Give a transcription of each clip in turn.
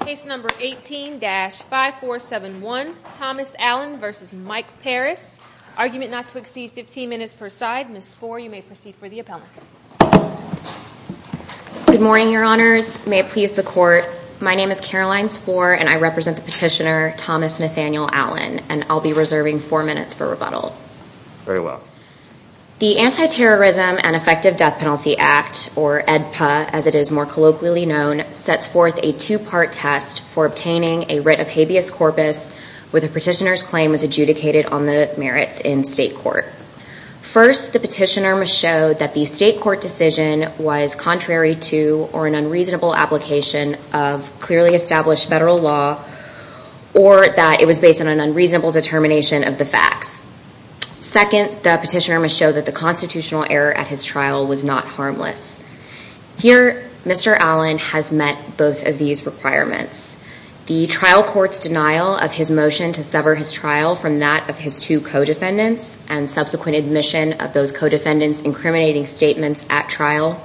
Case number 18-5471 Thomas Allen v. Mike Parris. Argument not to exceed 15 minutes per side. Ms. Spohr, you may proceed for the appellants. Good morning your honors. May it please the court, my name is Caroline Spohr and I represent the petitioner Thomas Nathaniel Allen and I'll be reserving four minutes for rebuttal. Very well. The Anti-Terrorism and Effective Death Penalty Act or AEDPA as it is more colloquially known sets forth a two-part test for obtaining a writ of habeas corpus where the petitioner's claim was adjudicated on the merits in state court. First, the petitioner must show that the state court decision was contrary to or an unreasonable application of clearly established federal law or that it was based on an unreasonable determination of the facts. Second, the petitioner must show that the constitutional error at all was not harmless. Here, Mr. Allen has met both of these requirements. The trial court's denial of his motion to sever his trial from that of his two co-defendants and subsequent admission of those co-defendants incriminating statements at trial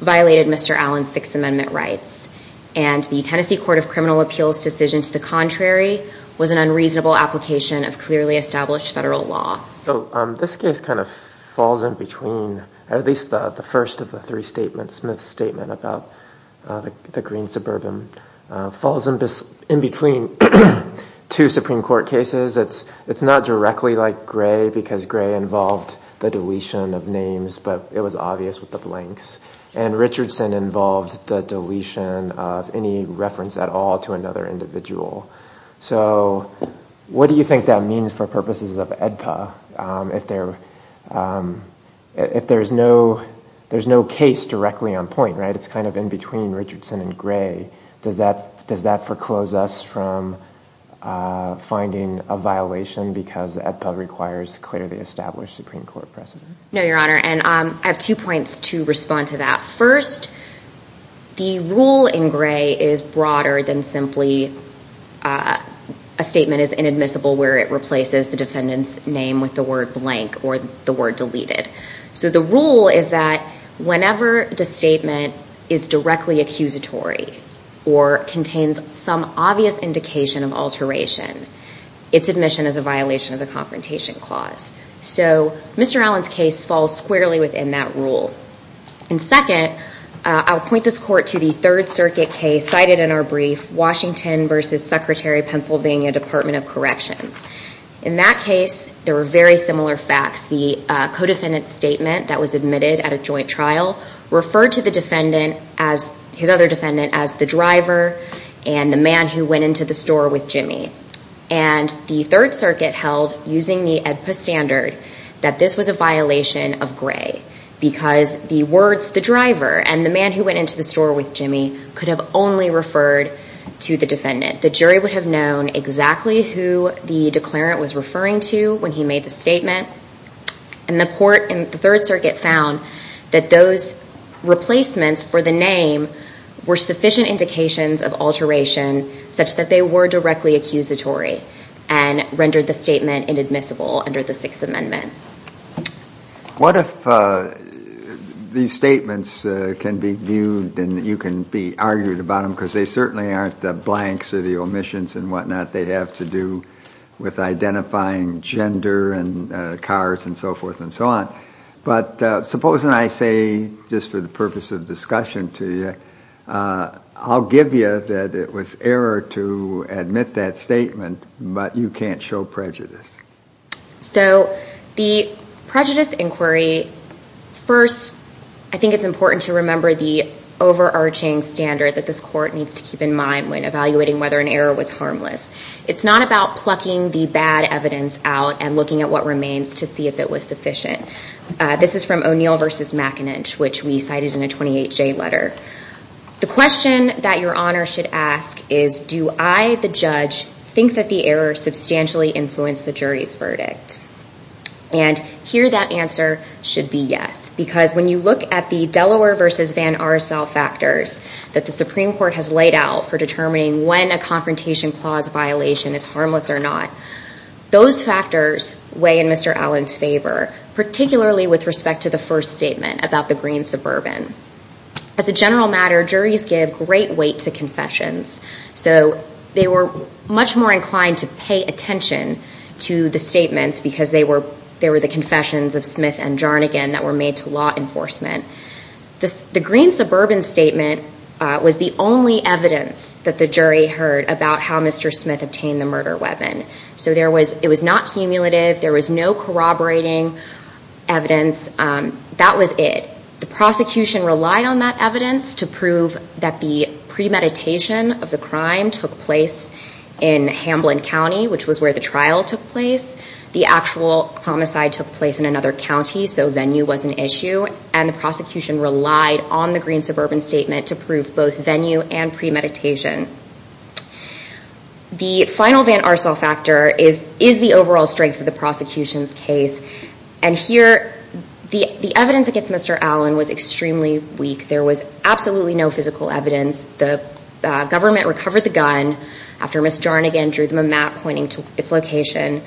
violated Mr. Allen's Sixth Amendment rights and the Tennessee Court of Criminal Appeals decision to the contrary was an unreasonable application of clearly established federal law. So this case kind of falls in between, at least the first of the three statements, Smith's statement about the Green Suburban, falls in between two Supreme Court cases. It's not directly like Gray because Gray involved the deletion of names but it was obvious with the blanks and Richardson involved the deletion of any reference at all to another individual. So what do you think that means for purposes of AEDPA if there's no case directly on point, right? It's kind of in between Richardson and Gray. Does that foreclose us from finding a violation because AEDPA requires clearly established Supreme Court precedent? No, Your Honor, and I have two points to respond to that. First, the rule in Gray is broader than simply a statement is inadmissible where it replaces the word blank or the word deleted. So the rule is that whenever the statement is directly accusatory or contains some obvious indication of alteration, its admission is a violation of the Confrontation Clause. So Mr. Allen's case falls squarely within that rule. And second, I'll point this court to the Third Circuit case cited in our brief, Washington v. Secretary Pennsylvania Department of Corrections. In that case, there were very similar facts. The co-defendant's statement that was admitted at a joint trial referred to the defendant, his other defendant, as the driver and the man who went into the store with Jimmy. And the Third Circuit held, using the AEDPA standard, that this was a violation of Gray because the words the driver and the man who went into the store with Jimmy could have only referred to the defendant. The defendant knew exactly who the declarant was referring to when he made the statement. And the court in the Third Circuit found that those replacements for the name were sufficient indications of alteration such that they were directly accusatory and rendered the statement inadmissible under the Sixth Amendment. What if these statements can be viewed and you can be argued about them because they certainly aren't the blanks or the omissions and whatnot they have to do with identifying gender and cars and so forth and so on. But supposing I say, just for the purpose of discussion to you, I'll give you that it was error to admit that statement, but you can't show prejudice. So the prejudice inquiry, first, I think it's important to remember the overarching standard that this court needs to keep in mind when evaluating whether an error was harmless. It's not about plucking the bad evidence out and looking at what remains to see if it was sufficient. This is from O'Neill v. McIninch, which we cited in a 28-J letter. The question that Your Honor should ask is, do I, the judge, think that the error substantially influenced the jury's verdict? And here that answer should be yes, because when you look at the Delaware v. Van Arsel factors that the Supreme Court has laid out for determining when a confrontation clause violation is harmless or not, those factors weigh in Mr. Allen's favor, particularly with respect to the first statement about the Green Suburban. As a general matter, juries give great weight to confessions. So they were much more inclined to pay attention to the statements because they were the confessions of Smith and Jarnigan that were made to law enforcement. The Green Suburban statement was the only evidence that the jury heard about how Mr. Smith obtained the murder weapon. So it was not cumulative. There was no corroborating evidence. That was it. The prosecution relied on that evidence to prove that the premeditation of the crime took place in Hamblin County, which was where the trial took place. The actual homicide took place in another county, so venue was an issue. And the prosecution relied on the Green Suburban statement to prove both venue and premeditation. The final Van Arsel factor is the overall strength of the prosecution's case. And here the evidence against Mr. Allen was extremely weak. There was absolutely no physical evidence. The government recovered the gun after Ms. Jarnigan drew them a map pointing to its location.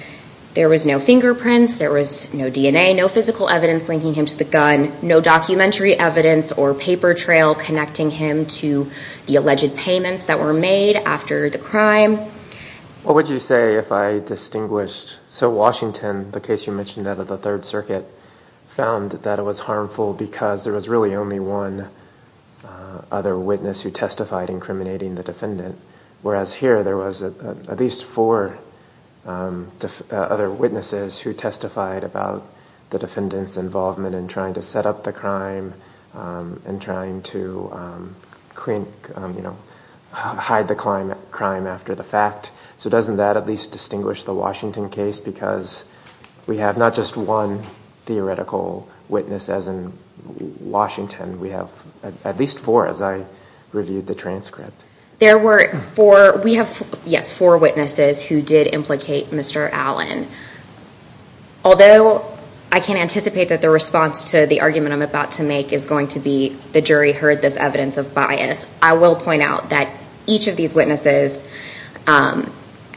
There was no fingerprints. There was no DNA. No physical evidence linking him to the gun. No documentary evidence or paper trail connecting him to the alleged payments that were made after the crime. What would you say if I distinguished, so Washington, the case you mentioned out of the Third Circuit, found that it was harmful because there was really only one other witness who testified incriminating the defendant. Whereas here there was at least four other witnesses who testified about the defendant's involvement in trying to set up the crime and trying to hide the crime after the fact. So doesn't that at least distinguish the Washington case? Because we have not just one theoretical witness as in Washington. We have at least four as I reviewed the transcript. There were four. We have, yes, four witnesses who did implicate Mr. Allen. Although I can't anticipate that the response to the argument I'm about to make is going to be the jury heard this evidence of bias, I will point out that each of these witnesses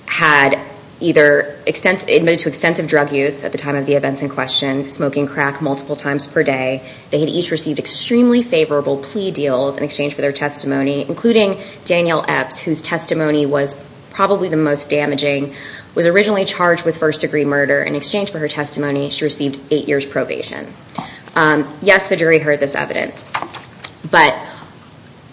had either admitted to extensive drug use at the time of the events in question, smoking crack multiple times per day. They had each received extremely favorable plea deals in exchange for their testimony, including Daniel Epps whose testimony was probably the most with first-degree murder. In exchange for her testimony, she received eight years probation. Yes, the jury heard this evidence. But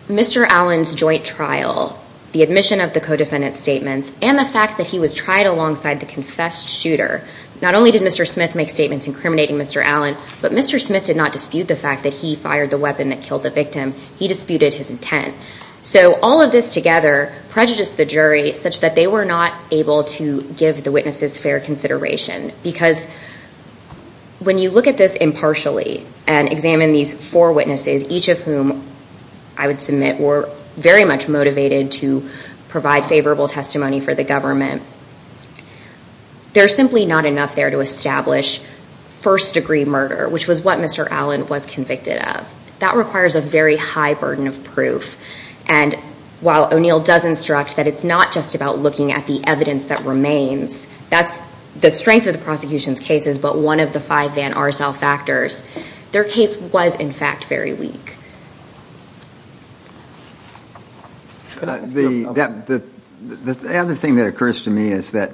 Mr. Allen's joint trial, the admission of the co-defendant's statements, and the fact that he was tried alongside the confessed shooter, not only did Mr. Smith make statements incriminating Mr. Allen, but Mr. Smith did not dispute the fact that he fired the weapon that killed the victim. He disputed his intent. So all of this together prejudiced the jury such that they were not able to give the witnesses fair consideration. Because when you look at this impartially and examine these four witnesses, each of whom I would submit were very much motivated to provide favorable testimony for the government, there's simply not enough there to establish first-degree murder, which was what Mr. Allen was convicted of. That requires a very high burden of proof. And while O'Neill does instruct that it's not just about looking at the evidence that remains, that's the strength of the prosecution's cases, but one of the five Van Arsel factors. Their case was in fact very weak. The other thing that occurs to me is that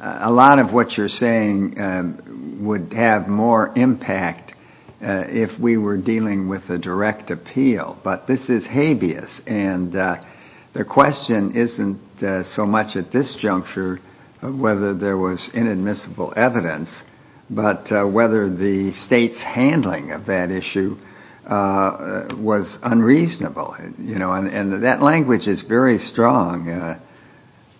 a lot of what you're saying would have more impact if we were dealing with a direct appeal, but this is habeas. And the question isn't so much at this juncture whether there was inadmissible evidence, but whether the state's handling of that issue was unreasonable. You know, and that language is very strong.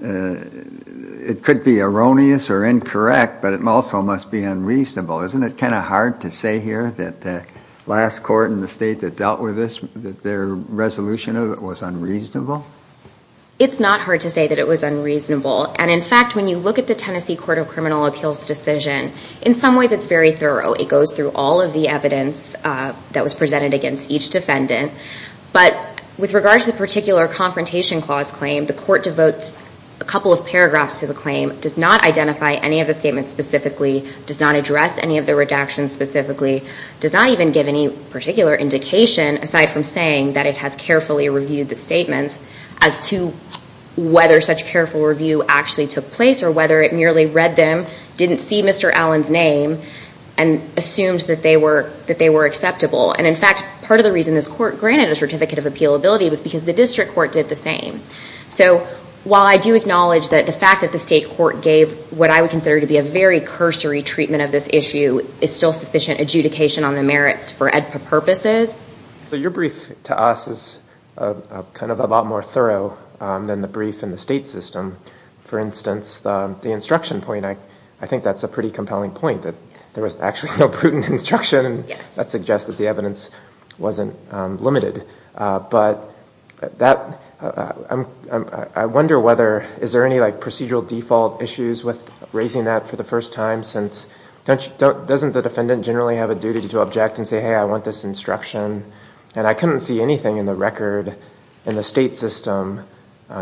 It could be erroneous or incorrect, but it also must be unreasonable. Isn't it kind of hard to state that dealt with this, that their resolution of it was unreasonable? It's not hard to say that it was unreasonable. And in fact, when you look at the Tennessee Court of Criminal Appeals decision, in some ways it's very thorough. It goes through all of the evidence that was presented against each defendant. But with regard to the particular Confrontation Clause claim, the Court devotes a couple of paragraphs to the claim, does not identify any of the statements specifically, does not address any of the redactions specifically, does not even give any particular indication, aside from saying that it has carefully reviewed the statements, as to whether such careful review actually took place or whether it merely read them, didn't see Mr. Allen's name, and assumed that they were acceptable. And in fact, part of the reason this Court granted a Certificate of Appealability was because the District Court did the same. So while I do acknowledge that the fact that the state court gave what I would consider to be a very cursory treatment of this issue is still sufficient adjudication on the merits for EDPA purposes. So your brief to us is kind of a lot more thorough than the brief in the state system. For instance, the instruction point, I think that's a pretty compelling point, that there was actually no prudent instruction. That suggests that the evidence wasn't limited. But I wonder whether, is there any like procedural default issues with raising that for the first time, since doesn't the District Court can say, hey, I want this instruction, and I couldn't see anything in the record in the state system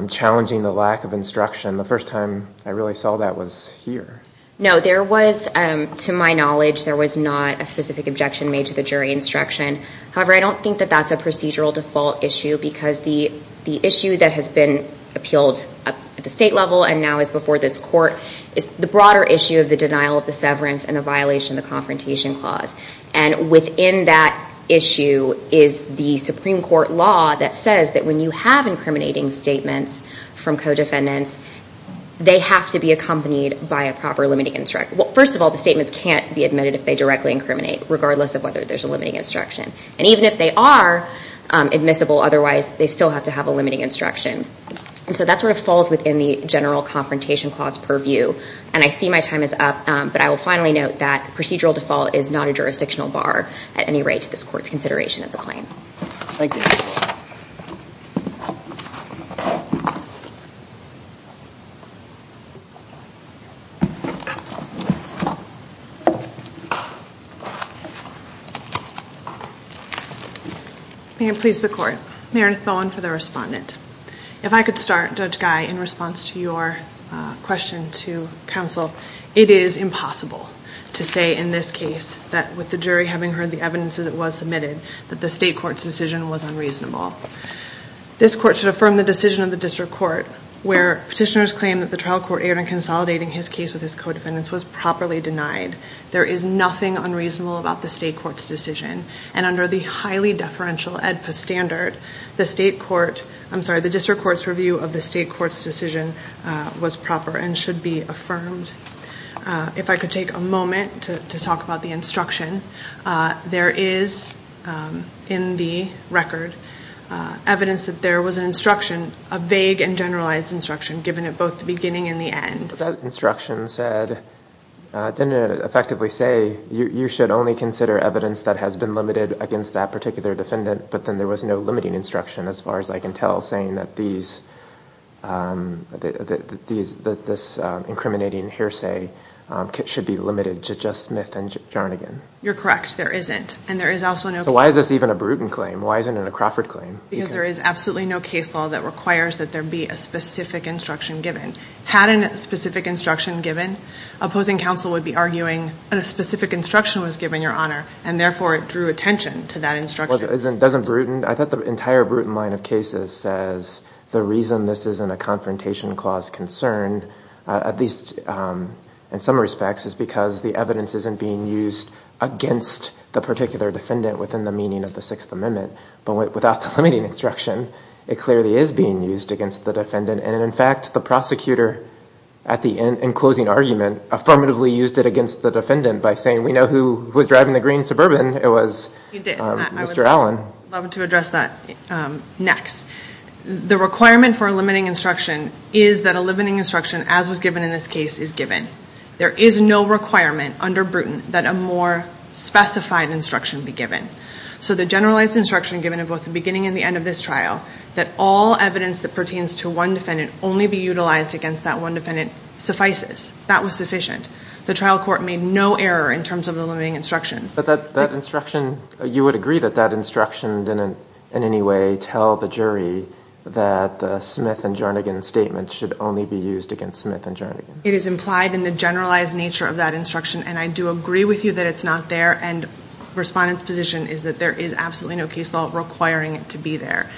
challenging the lack of instruction the first time I really saw that was here. No, there was, to my knowledge, there was not a specific objection made to the jury instruction. However, I don't think that that's a procedural default issue, because the issue that has been appealed at the state level and now is before this Court, is the broader issue of the denial of the severance and the violation of the confrontation clause. And within that issue is the Supreme Court law that says that when you have incriminating statements from co-defendants, they have to be accompanied by a proper limiting instruction. Well, first of all, the statements can't be admitted if they directly incriminate, regardless of whether there's a limiting instruction. And even if they are admissible otherwise, they still have to have a limiting instruction. And so that sort of falls within the general confrontation clause purview. And I see my time is up, but I will finally note that procedural default is not a jurisdictional bar at any rate to this Court's consideration of the claim. Thank you. May it please the Court. Meredith Bowen for the respondent. If I could start, Judge Guy, in response to your question to counsel. It is impossible to say in this case that with the jury having heard the evidence that was submitted, that the state court's decision was unreasonable. This Court should affirm the decision of the district court where petitioners claim that the trial court erred in consolidating his case with his co-defendants was properly denied. There is nothing unreasonable about the state court's decision. And under the highly deferential AEDPA standard, the state court, I'm sorry, the district court's review of the state court's decision was proper and should be affirmed. If I could take a moment to talk about the instruction. There is, in the record, evidence that there was an instruction, a vague and generalized instruction, given it both the beginning and the end. That instruction said, it didn't effectively say you should only consider evidence that has been limited against that particular defendant, but then there was no limiting instruction as far as I can tell, saying that these, that this incriminating hearsay should be limited to just Smith and Jarnigan. You're correct. There isn't. And there is also no... Why is this even a Bruton claim? Why isn't it a Crawford claim? Because there is absolutely no case law that requires that there be a specific instruction given. Had a specific instruction given, opposing counsel would be arguing that a specific instruction was given, Your Honor, and therefore it drew attention to that instruction. Doesn't Bruton, I thought the entire Bruton line of cases says the reason this isn't a confrontation clause concerned, at least in some respects, is because the evidence isn't being used against the particular defendant within the meaning of the Sixth Amendment. But without the limiting instruction, it clearly is being used against the defendant. And in fact, the prosecutor, at the end, in closing argument, affirmatively used it against the defendant by saying, we know who was in the green Suburban. It was Mr. Allen. I would love to address that next. The requirement for a limiting instruction is that a limiting instruction, as was given in this case, is given. There is no requirement under Bruton that a more specified instruction be given. So the generalized instruction given at both the beginning and the end of this trial, that all evidence that pertains to one defendant only be utilized against that one defendant, suffices. That was sufficient. The trial court made no error in terms of the limiting instructions. But that instruction, you would agree that that instruction didn't in any way tell the jury that the Smith and Jernigan statement should only be used against Smith and Jernigan? It is implied in the generalized nature of that instruction. And I do agree with you that it's not there. And Respondent's position is that there is absolutely no case law requiring it to be there.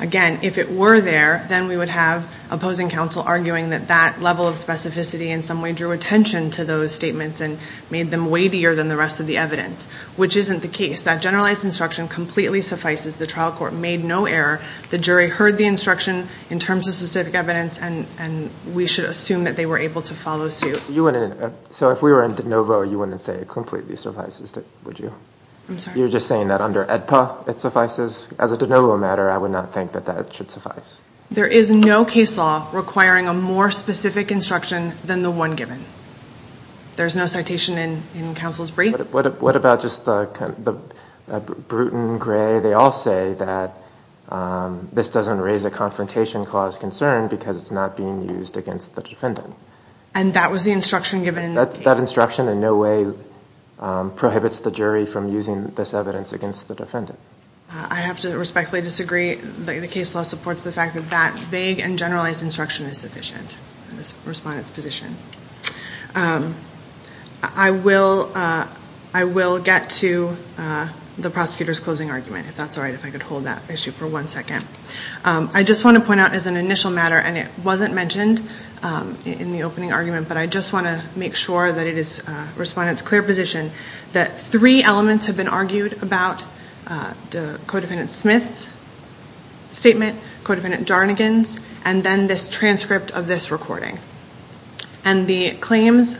Again, if it were there, then we would have opposing counsel arguing that that level of specificity, in some way, drew attention to those statements and made them weightier than the rest of the evidence, which isn't the case. That generalized instruction completely suffices. The trial court made no error. The jury heard the instruction in terms of specific evidence, and we should assume that they were able to follow suit. So if we were in De Novo, you wouldn't say it completely suffices, would you? I'm sorry? You're just saying that under AEDPA it suffices? As a De Novo matter, I would not think that should suffice. There is no case law requiring a more specific instruction than the one given. There's no citation in counsel's brief? What about just the Bruton, Gray, they all say that this doesn't raise a confrontation clause concern because it's not being used against the defendant. And that was the instruction given in this case? That instruction in no way prohibits the jury from using this evidence against the defendant. I have to respectfully disagree. The case law supports the fact that that vague and generalized instruction is sufficient in Respondent's position. I will get to the prosecutor's closing argument, if that's all right, if I could hold that issue for one second. I just want to point out as an initial matter, and it wasn't mentioned in the opening argument, but I just want to make sure that it is Respondent's clear position that three elements have been argued about the Co-defendant Smith's statement, Co-defendant Jarnigan's, and then this transcript of this recording. And the claims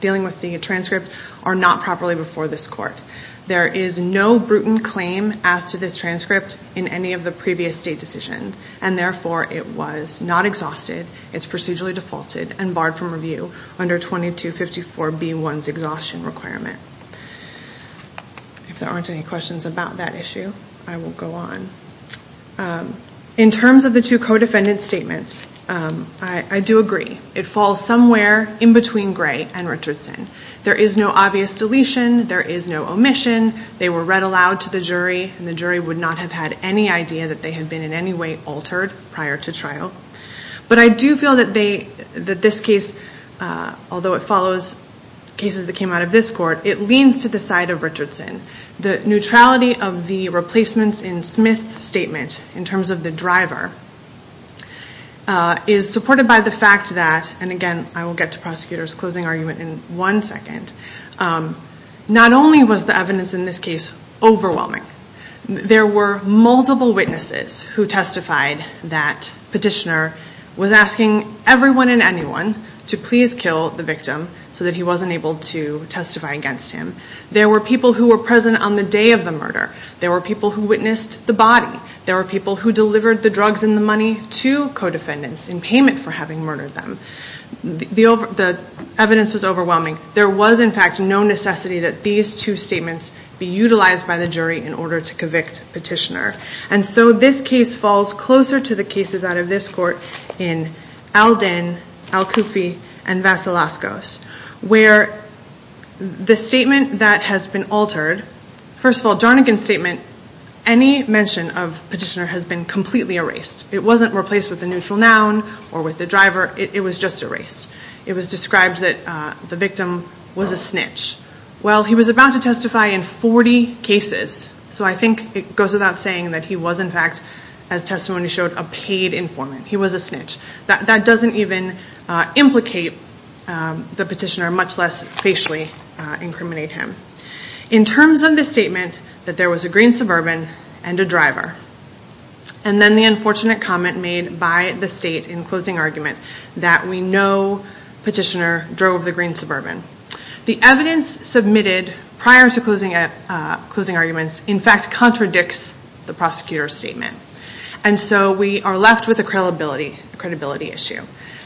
dealing with the transcript are not properly before this court. There is no Bruton claim as to this transcript in any of the previous state decisions, and therefore it was not exhausted, it's procedurally defaulted, and barred from review under 2254b1's exhaustion requirement. If there aren't any questions about that issue, I will go on. In terms of the two Co-defendant's statements, I do agree. It falls somewhere in between Gray and Richardson. There is no obvious deletion, there is no omission, they were read aloud to the jury, and the jury would not have had any idea that they had been in any way altered prior to trial. But I do feel that this case, although it follows cases that came out of this court, it leans to the side of in terms of the driver, is supported by the fact that, and again I will get to prosecutor's closing argument in one second, not only was the evidence in this case overwhelming, there were multiple witnesses who testified that petitioner was asking everyone and anyone to please kill the victim so that he wasn't able to testify against him. There were people who were present on the day of the body. There were people who delivered the drugs and the money to Co-defendants in payment for having murdered them. The evidence was overwhelming. There was, in fact, no necessity that these two statements be utilized by the jury in order to convict petitioner. And so this case falls closer to the cases out of this court in Alden, Al-Kufi, and Vasalascos, where the statement that has been altered, first of all, Jarnagin's statement, any mention of petitioner has been completely erased. It wasn't replaced with a neutral noun or with the driver. It was just erased. It was described that the victim was a snitch. Well, he was about to testify in 40 cases, so I think it goes without saying that he was, in fact, as testimony showed, a paid informant. He was a snitch. That doesn't even implicate the petitioner, much less facially incriminate him. In terms of the statement that there was a green suburban and a driver, and then the unfortunate comment made by the state in closing argument that we know petitioner drove the green suburban, the evidence submitted prior to closing arguments, in fact, contradicts the prosecutor's statement. And so we are left with a credibility issue.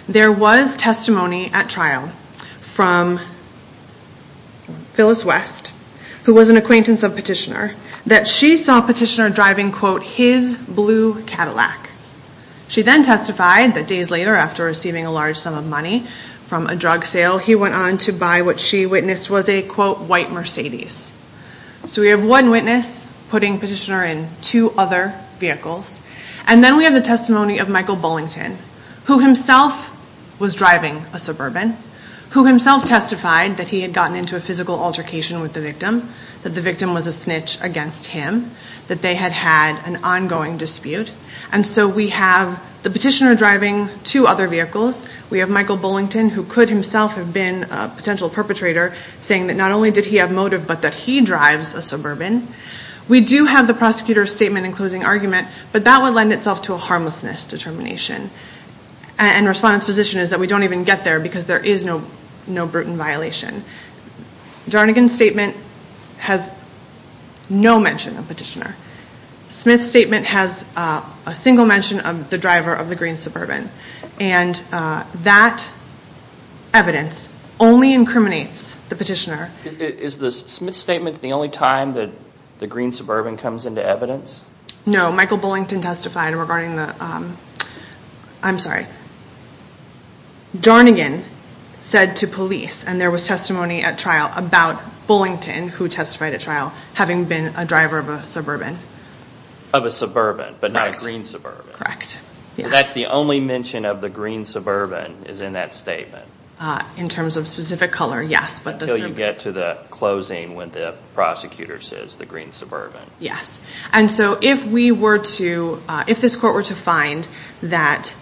There was testimony at trial from Phyllis West, who was an acquaintance of petitioner, that she saw petitioner driving, quote, his blue Cadillac. She then testified that days later, after receiving a large sum of money from a drug sale, he went on to buy what she witnessed was a, quote, white Mercedes. So we have one witness putting petitioner in two other vehicles. And then we have the testimony of Michael Bullington, who himself was driving a suburban, who himself testified that he had gotten into a physical altercation with the victim, that the victim was a snitch against him, that they had had an ongoing dispute. And so we have the petitioner driving two other vehicles. We have Michael Bullington, who could himself have been a potential perpetrator, saying that not only did he have motive, but that he drives a But that would lend itself to a harmlessness determination. And respondent's position is that we don't even get there because there is no brutal violation. Darnagan's statement has no mention of petitioner. Smith's statement has a single mention of the driver of the green suburban. And that evidence only incriminates the petitioner. Is the Smith's statement the only time that the green suburban comes into evidence? No. Michael Bullington testified regarding the... I'm sorry. Darnagan said to police, and there was testimony at trial about Bullington, who testified at trial, having been a driver of a suburban. Of a suburban, but not a green suburban. Correct. So that's the only mention of the green suburban is in that statement? In terms of specific color, yes. Until you get to the closing when the prosecutor says the green suburban. Yes. And so if we were to... If this court were to find that,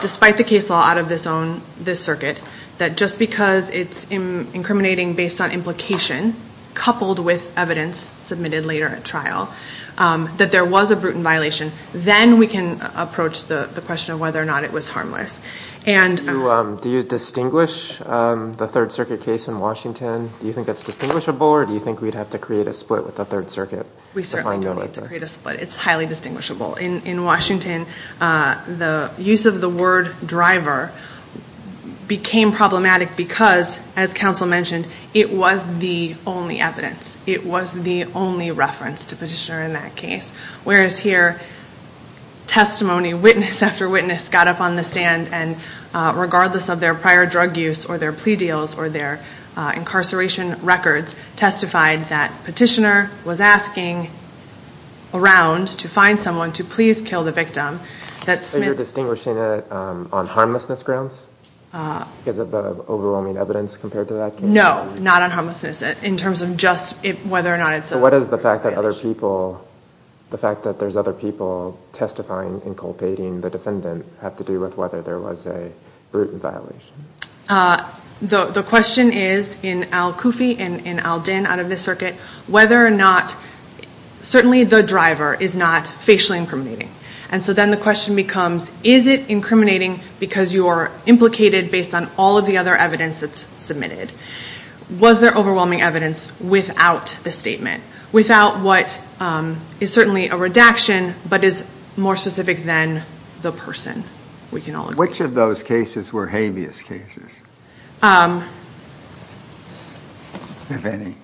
despite the case law out of this circuit, that just because it's incriminating based on implication, coupled with evidence submitted later at trial, that there was a brutal violation, then we can approach the question of whether or not it was harmless. And... Do you distinguish the Third Circuit case in Washington? Do you think that's distinguishable, or do you think we'd have to create a split with the Third Circuit? We certainly do need to create a split. It's highly distinguishable. In Washington, the use of the word driver became problematic because, as counsel mentioned, it was the only evidence. It was the only reference to petitioner in that case. Whereas here, testimony, witness after witness, got up on the stand, and regardless of their prior drug use, or their plea deals, or their petitioner was asking around to find someone to please kill the victim, that Smith... So you're distinguishing it on harmlessness grounds? Because of the overwhelming evidence compared to that case? No, not on harmlessness. In terms of just whether or not it's a... So what is the fact that other people... The fact that there's other people testifying and culpating the defendant have to do with whether there was a brutal violation? The question is, in Al Kufi and in Al Dinn out of this circuit, whether or not... Certainly the driver is not facially incriminating. And so then the question becomes, is it incriminating because you are implicated based on all of the other evidence that's submitted? Was there overwhelming evidence without the statement? Without what is certainly a redaction, but is more specific than the person? We can all agree. Which of those cases were habeas cases? If any.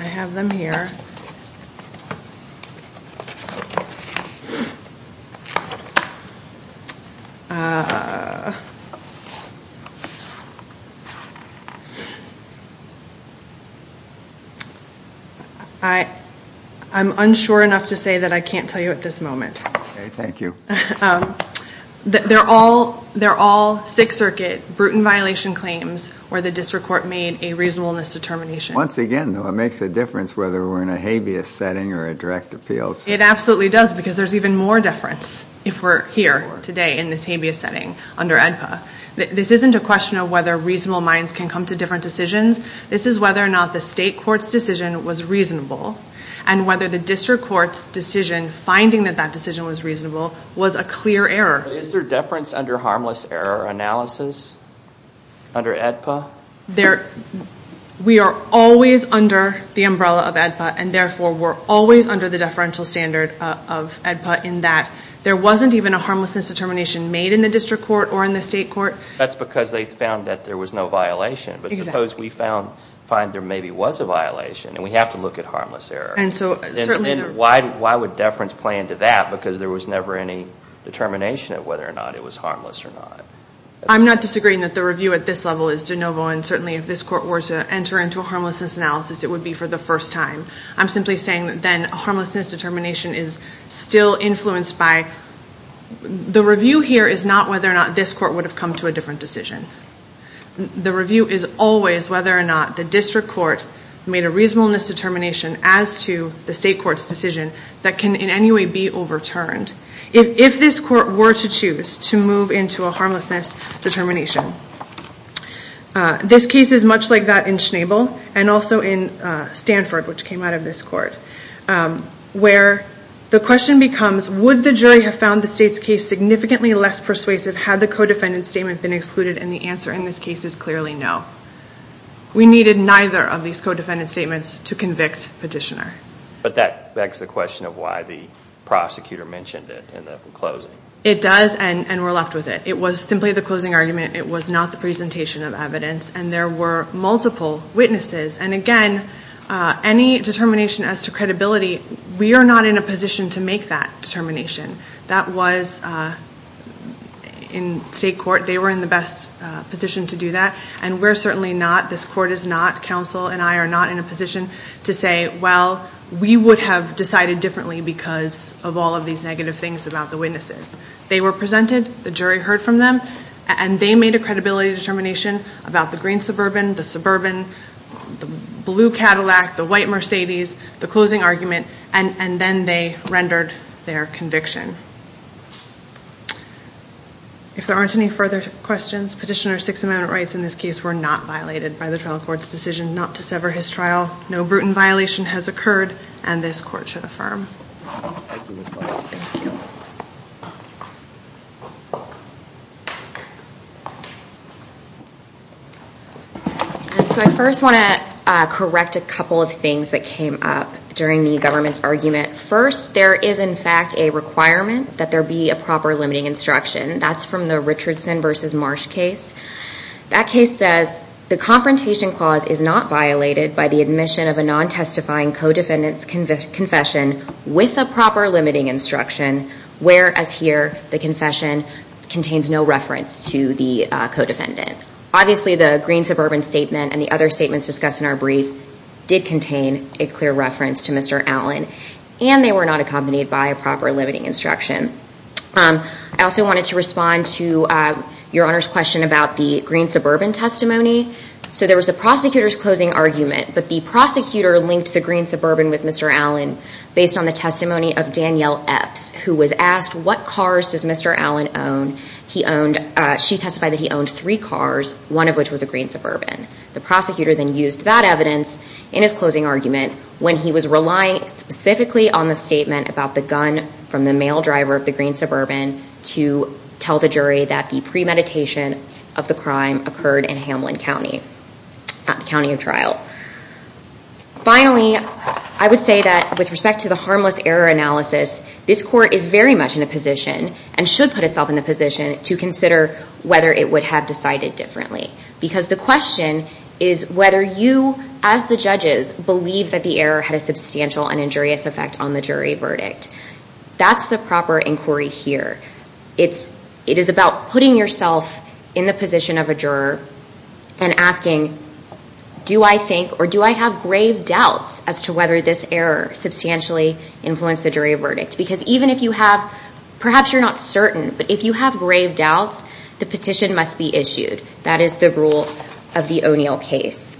I have them here. I'm unsure enough to tell you at this moment. Okay, thank you. They're all Sixth Circuit, brutal violation claims where the district court made a reasonableness determination. Once again, though, it makes a difference whether we're in a habeas setting or a direct appeals. It absolutely does because there's even more deference if we're here today in this habeas setting under AEDPA. This isn't a question of whether reasonable minds can come to different decisions. This is whether or not the state court's was reasonable and whether the district court's decision finding that that decision was reasonable was a clear error. Is there deference under harmless error analysis under AEDPA? We are always under the umbrella of AEDPA and therefore we're always under the deferential standard of AEDPA in that there wasn't even a harmlessness determination made in the district court or in the state court. That's because they found that there was no violation. But suppose we find there maybe was a violation and we have to look at harmless error. Why would deference play into that? Because there was never any determination of whether or not it was harmless or not. I'm not disagreeing that the review at this level is de novo and certainly if this court were to enter into a harmlessness analysis it would be for the first time. I'm simply saying that then a harmlessness determination is still influenced by... The review here is not whether or not this court would have come to a decision. The review is always whether or not the district court made a reasonableness determination as to the state court's decision that can in any way be overturned. If this court were to choose to move into a harmlessness determination. This case is much like that in Schnabel and also in Stanford which came out of this court. Where the question becomes would the jury have found the state's case significantly less persuasive had the co-defendant statement been excluded and the answer in this case is clearly no. We needed neither of these co-defendant statements to convict petitioner. But that begs the question of why the prosecutor mentioned it in the closing. It does and we're left with it. It was simply the closing argument. It was not the presentation of evidence and there were multiple witnesses and again any determination as to credibility we are not in a position to make that determination. That was in state court. They were in the best position to do that and we're certainly not. This court is not. Counsel and I are not in a position to say well we would have decided differently because of all of these negative things about the witnesses. They were presented. The jury heard from them and they made a credibility determination about the green suburban, the suburban, the blue Cadillac, the white Mercedes, the closing argument and then they rendered their conviction. If there aren't any further questions, Petitioner's six amendment rights in this case were not violated by the trial court's decision not to sever his trial. No brutal violation has occurred and this court should affirm. So I first want to correct a couple of things that came up during the argument. First there is in fact a requirement that there be a proper limiting instruction. That's from the Richardson versus Marsh case. That case says the confrontation clause is not violated by the admission of a non-testifying co-defendant's confession with a proper limiting instruction whereas here the confession contains no reference to the co-defendant. Obviously the green suburban statement and the other statements discussed in brief did contain a clear reference to Mr. Allen and they were not accompanied by a proper limiting instruction. I also wanted to respond to your Honor's question about the green suburban testimony. So there was the prosecutor's closing argument but the prosecutor linked the green suburban with Mr. Allen based on the testimony of Danielle Epps who was asked what cars does Mr. Allen own. She testified that he owned three cars, one of which was a green in his closing argument when he was relying specifically on the statement about the gun from the male driver of the green suburban to tell the jury that the premeditation of the crime occurred in Hamlin County, the county of trial. Finally, I would say that with respect to the harmless error analysis, this court is very much in a position and should put itself in a position to consider whether it would have decided differently because the question is whether you as the judges believe that the error had a substantial and injurious effect on the jury verdict. That's the proper inquiry here. It is about putting yourself in the position of a juror and asking do I think or do I have grave doubts as to whether this error substantially influenced the jury verdict. Because even if you have, perhaps you're not certain, but if you have grave doubts the petition must be issued. That is the rule of the O'Neill case.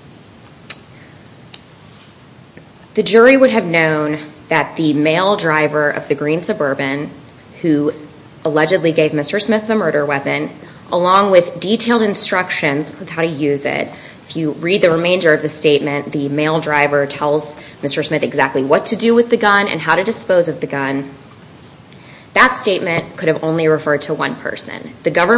The jury would have known that the male driver of the green suburban, who allegedly gave Mr. Smith the murder weapon, along with detailed instructions on how to use it, if you read the remainder of the statement, the male driver tells Mr. Smith exactly what to do with the gun and how to dispose of the gun, that statement could have only referred to one person. The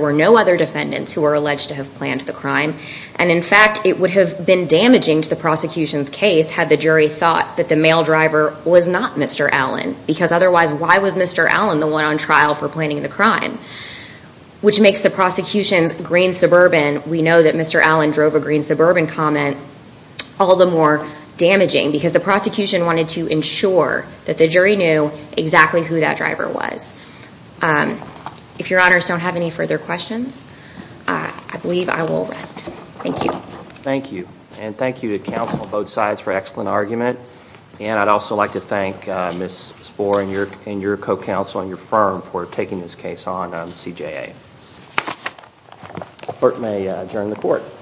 were no other defendants who were alleged to have planned the crime and in fact it would have been damaging to the prosecution's case had the jury thought that the male driver was not Mr. Allen because otherwise why was Mr. Allen the one on trial for planning the crime? Which makes the prosecution's green suburban, we know that Mr. Allen drove a green suburban comment, all the more damaging because the prosecution wanted to ensure that the jury knew exactly who that driver was. If your honors don't have any further questions, I believe I will rest. Thank you. Thank you and thank you to counsel on both sides for excellent argument and I'd also like to thank Ms. Spohr and your co-counsel and your firm for taking this case on CJA. Court may adjourn the court.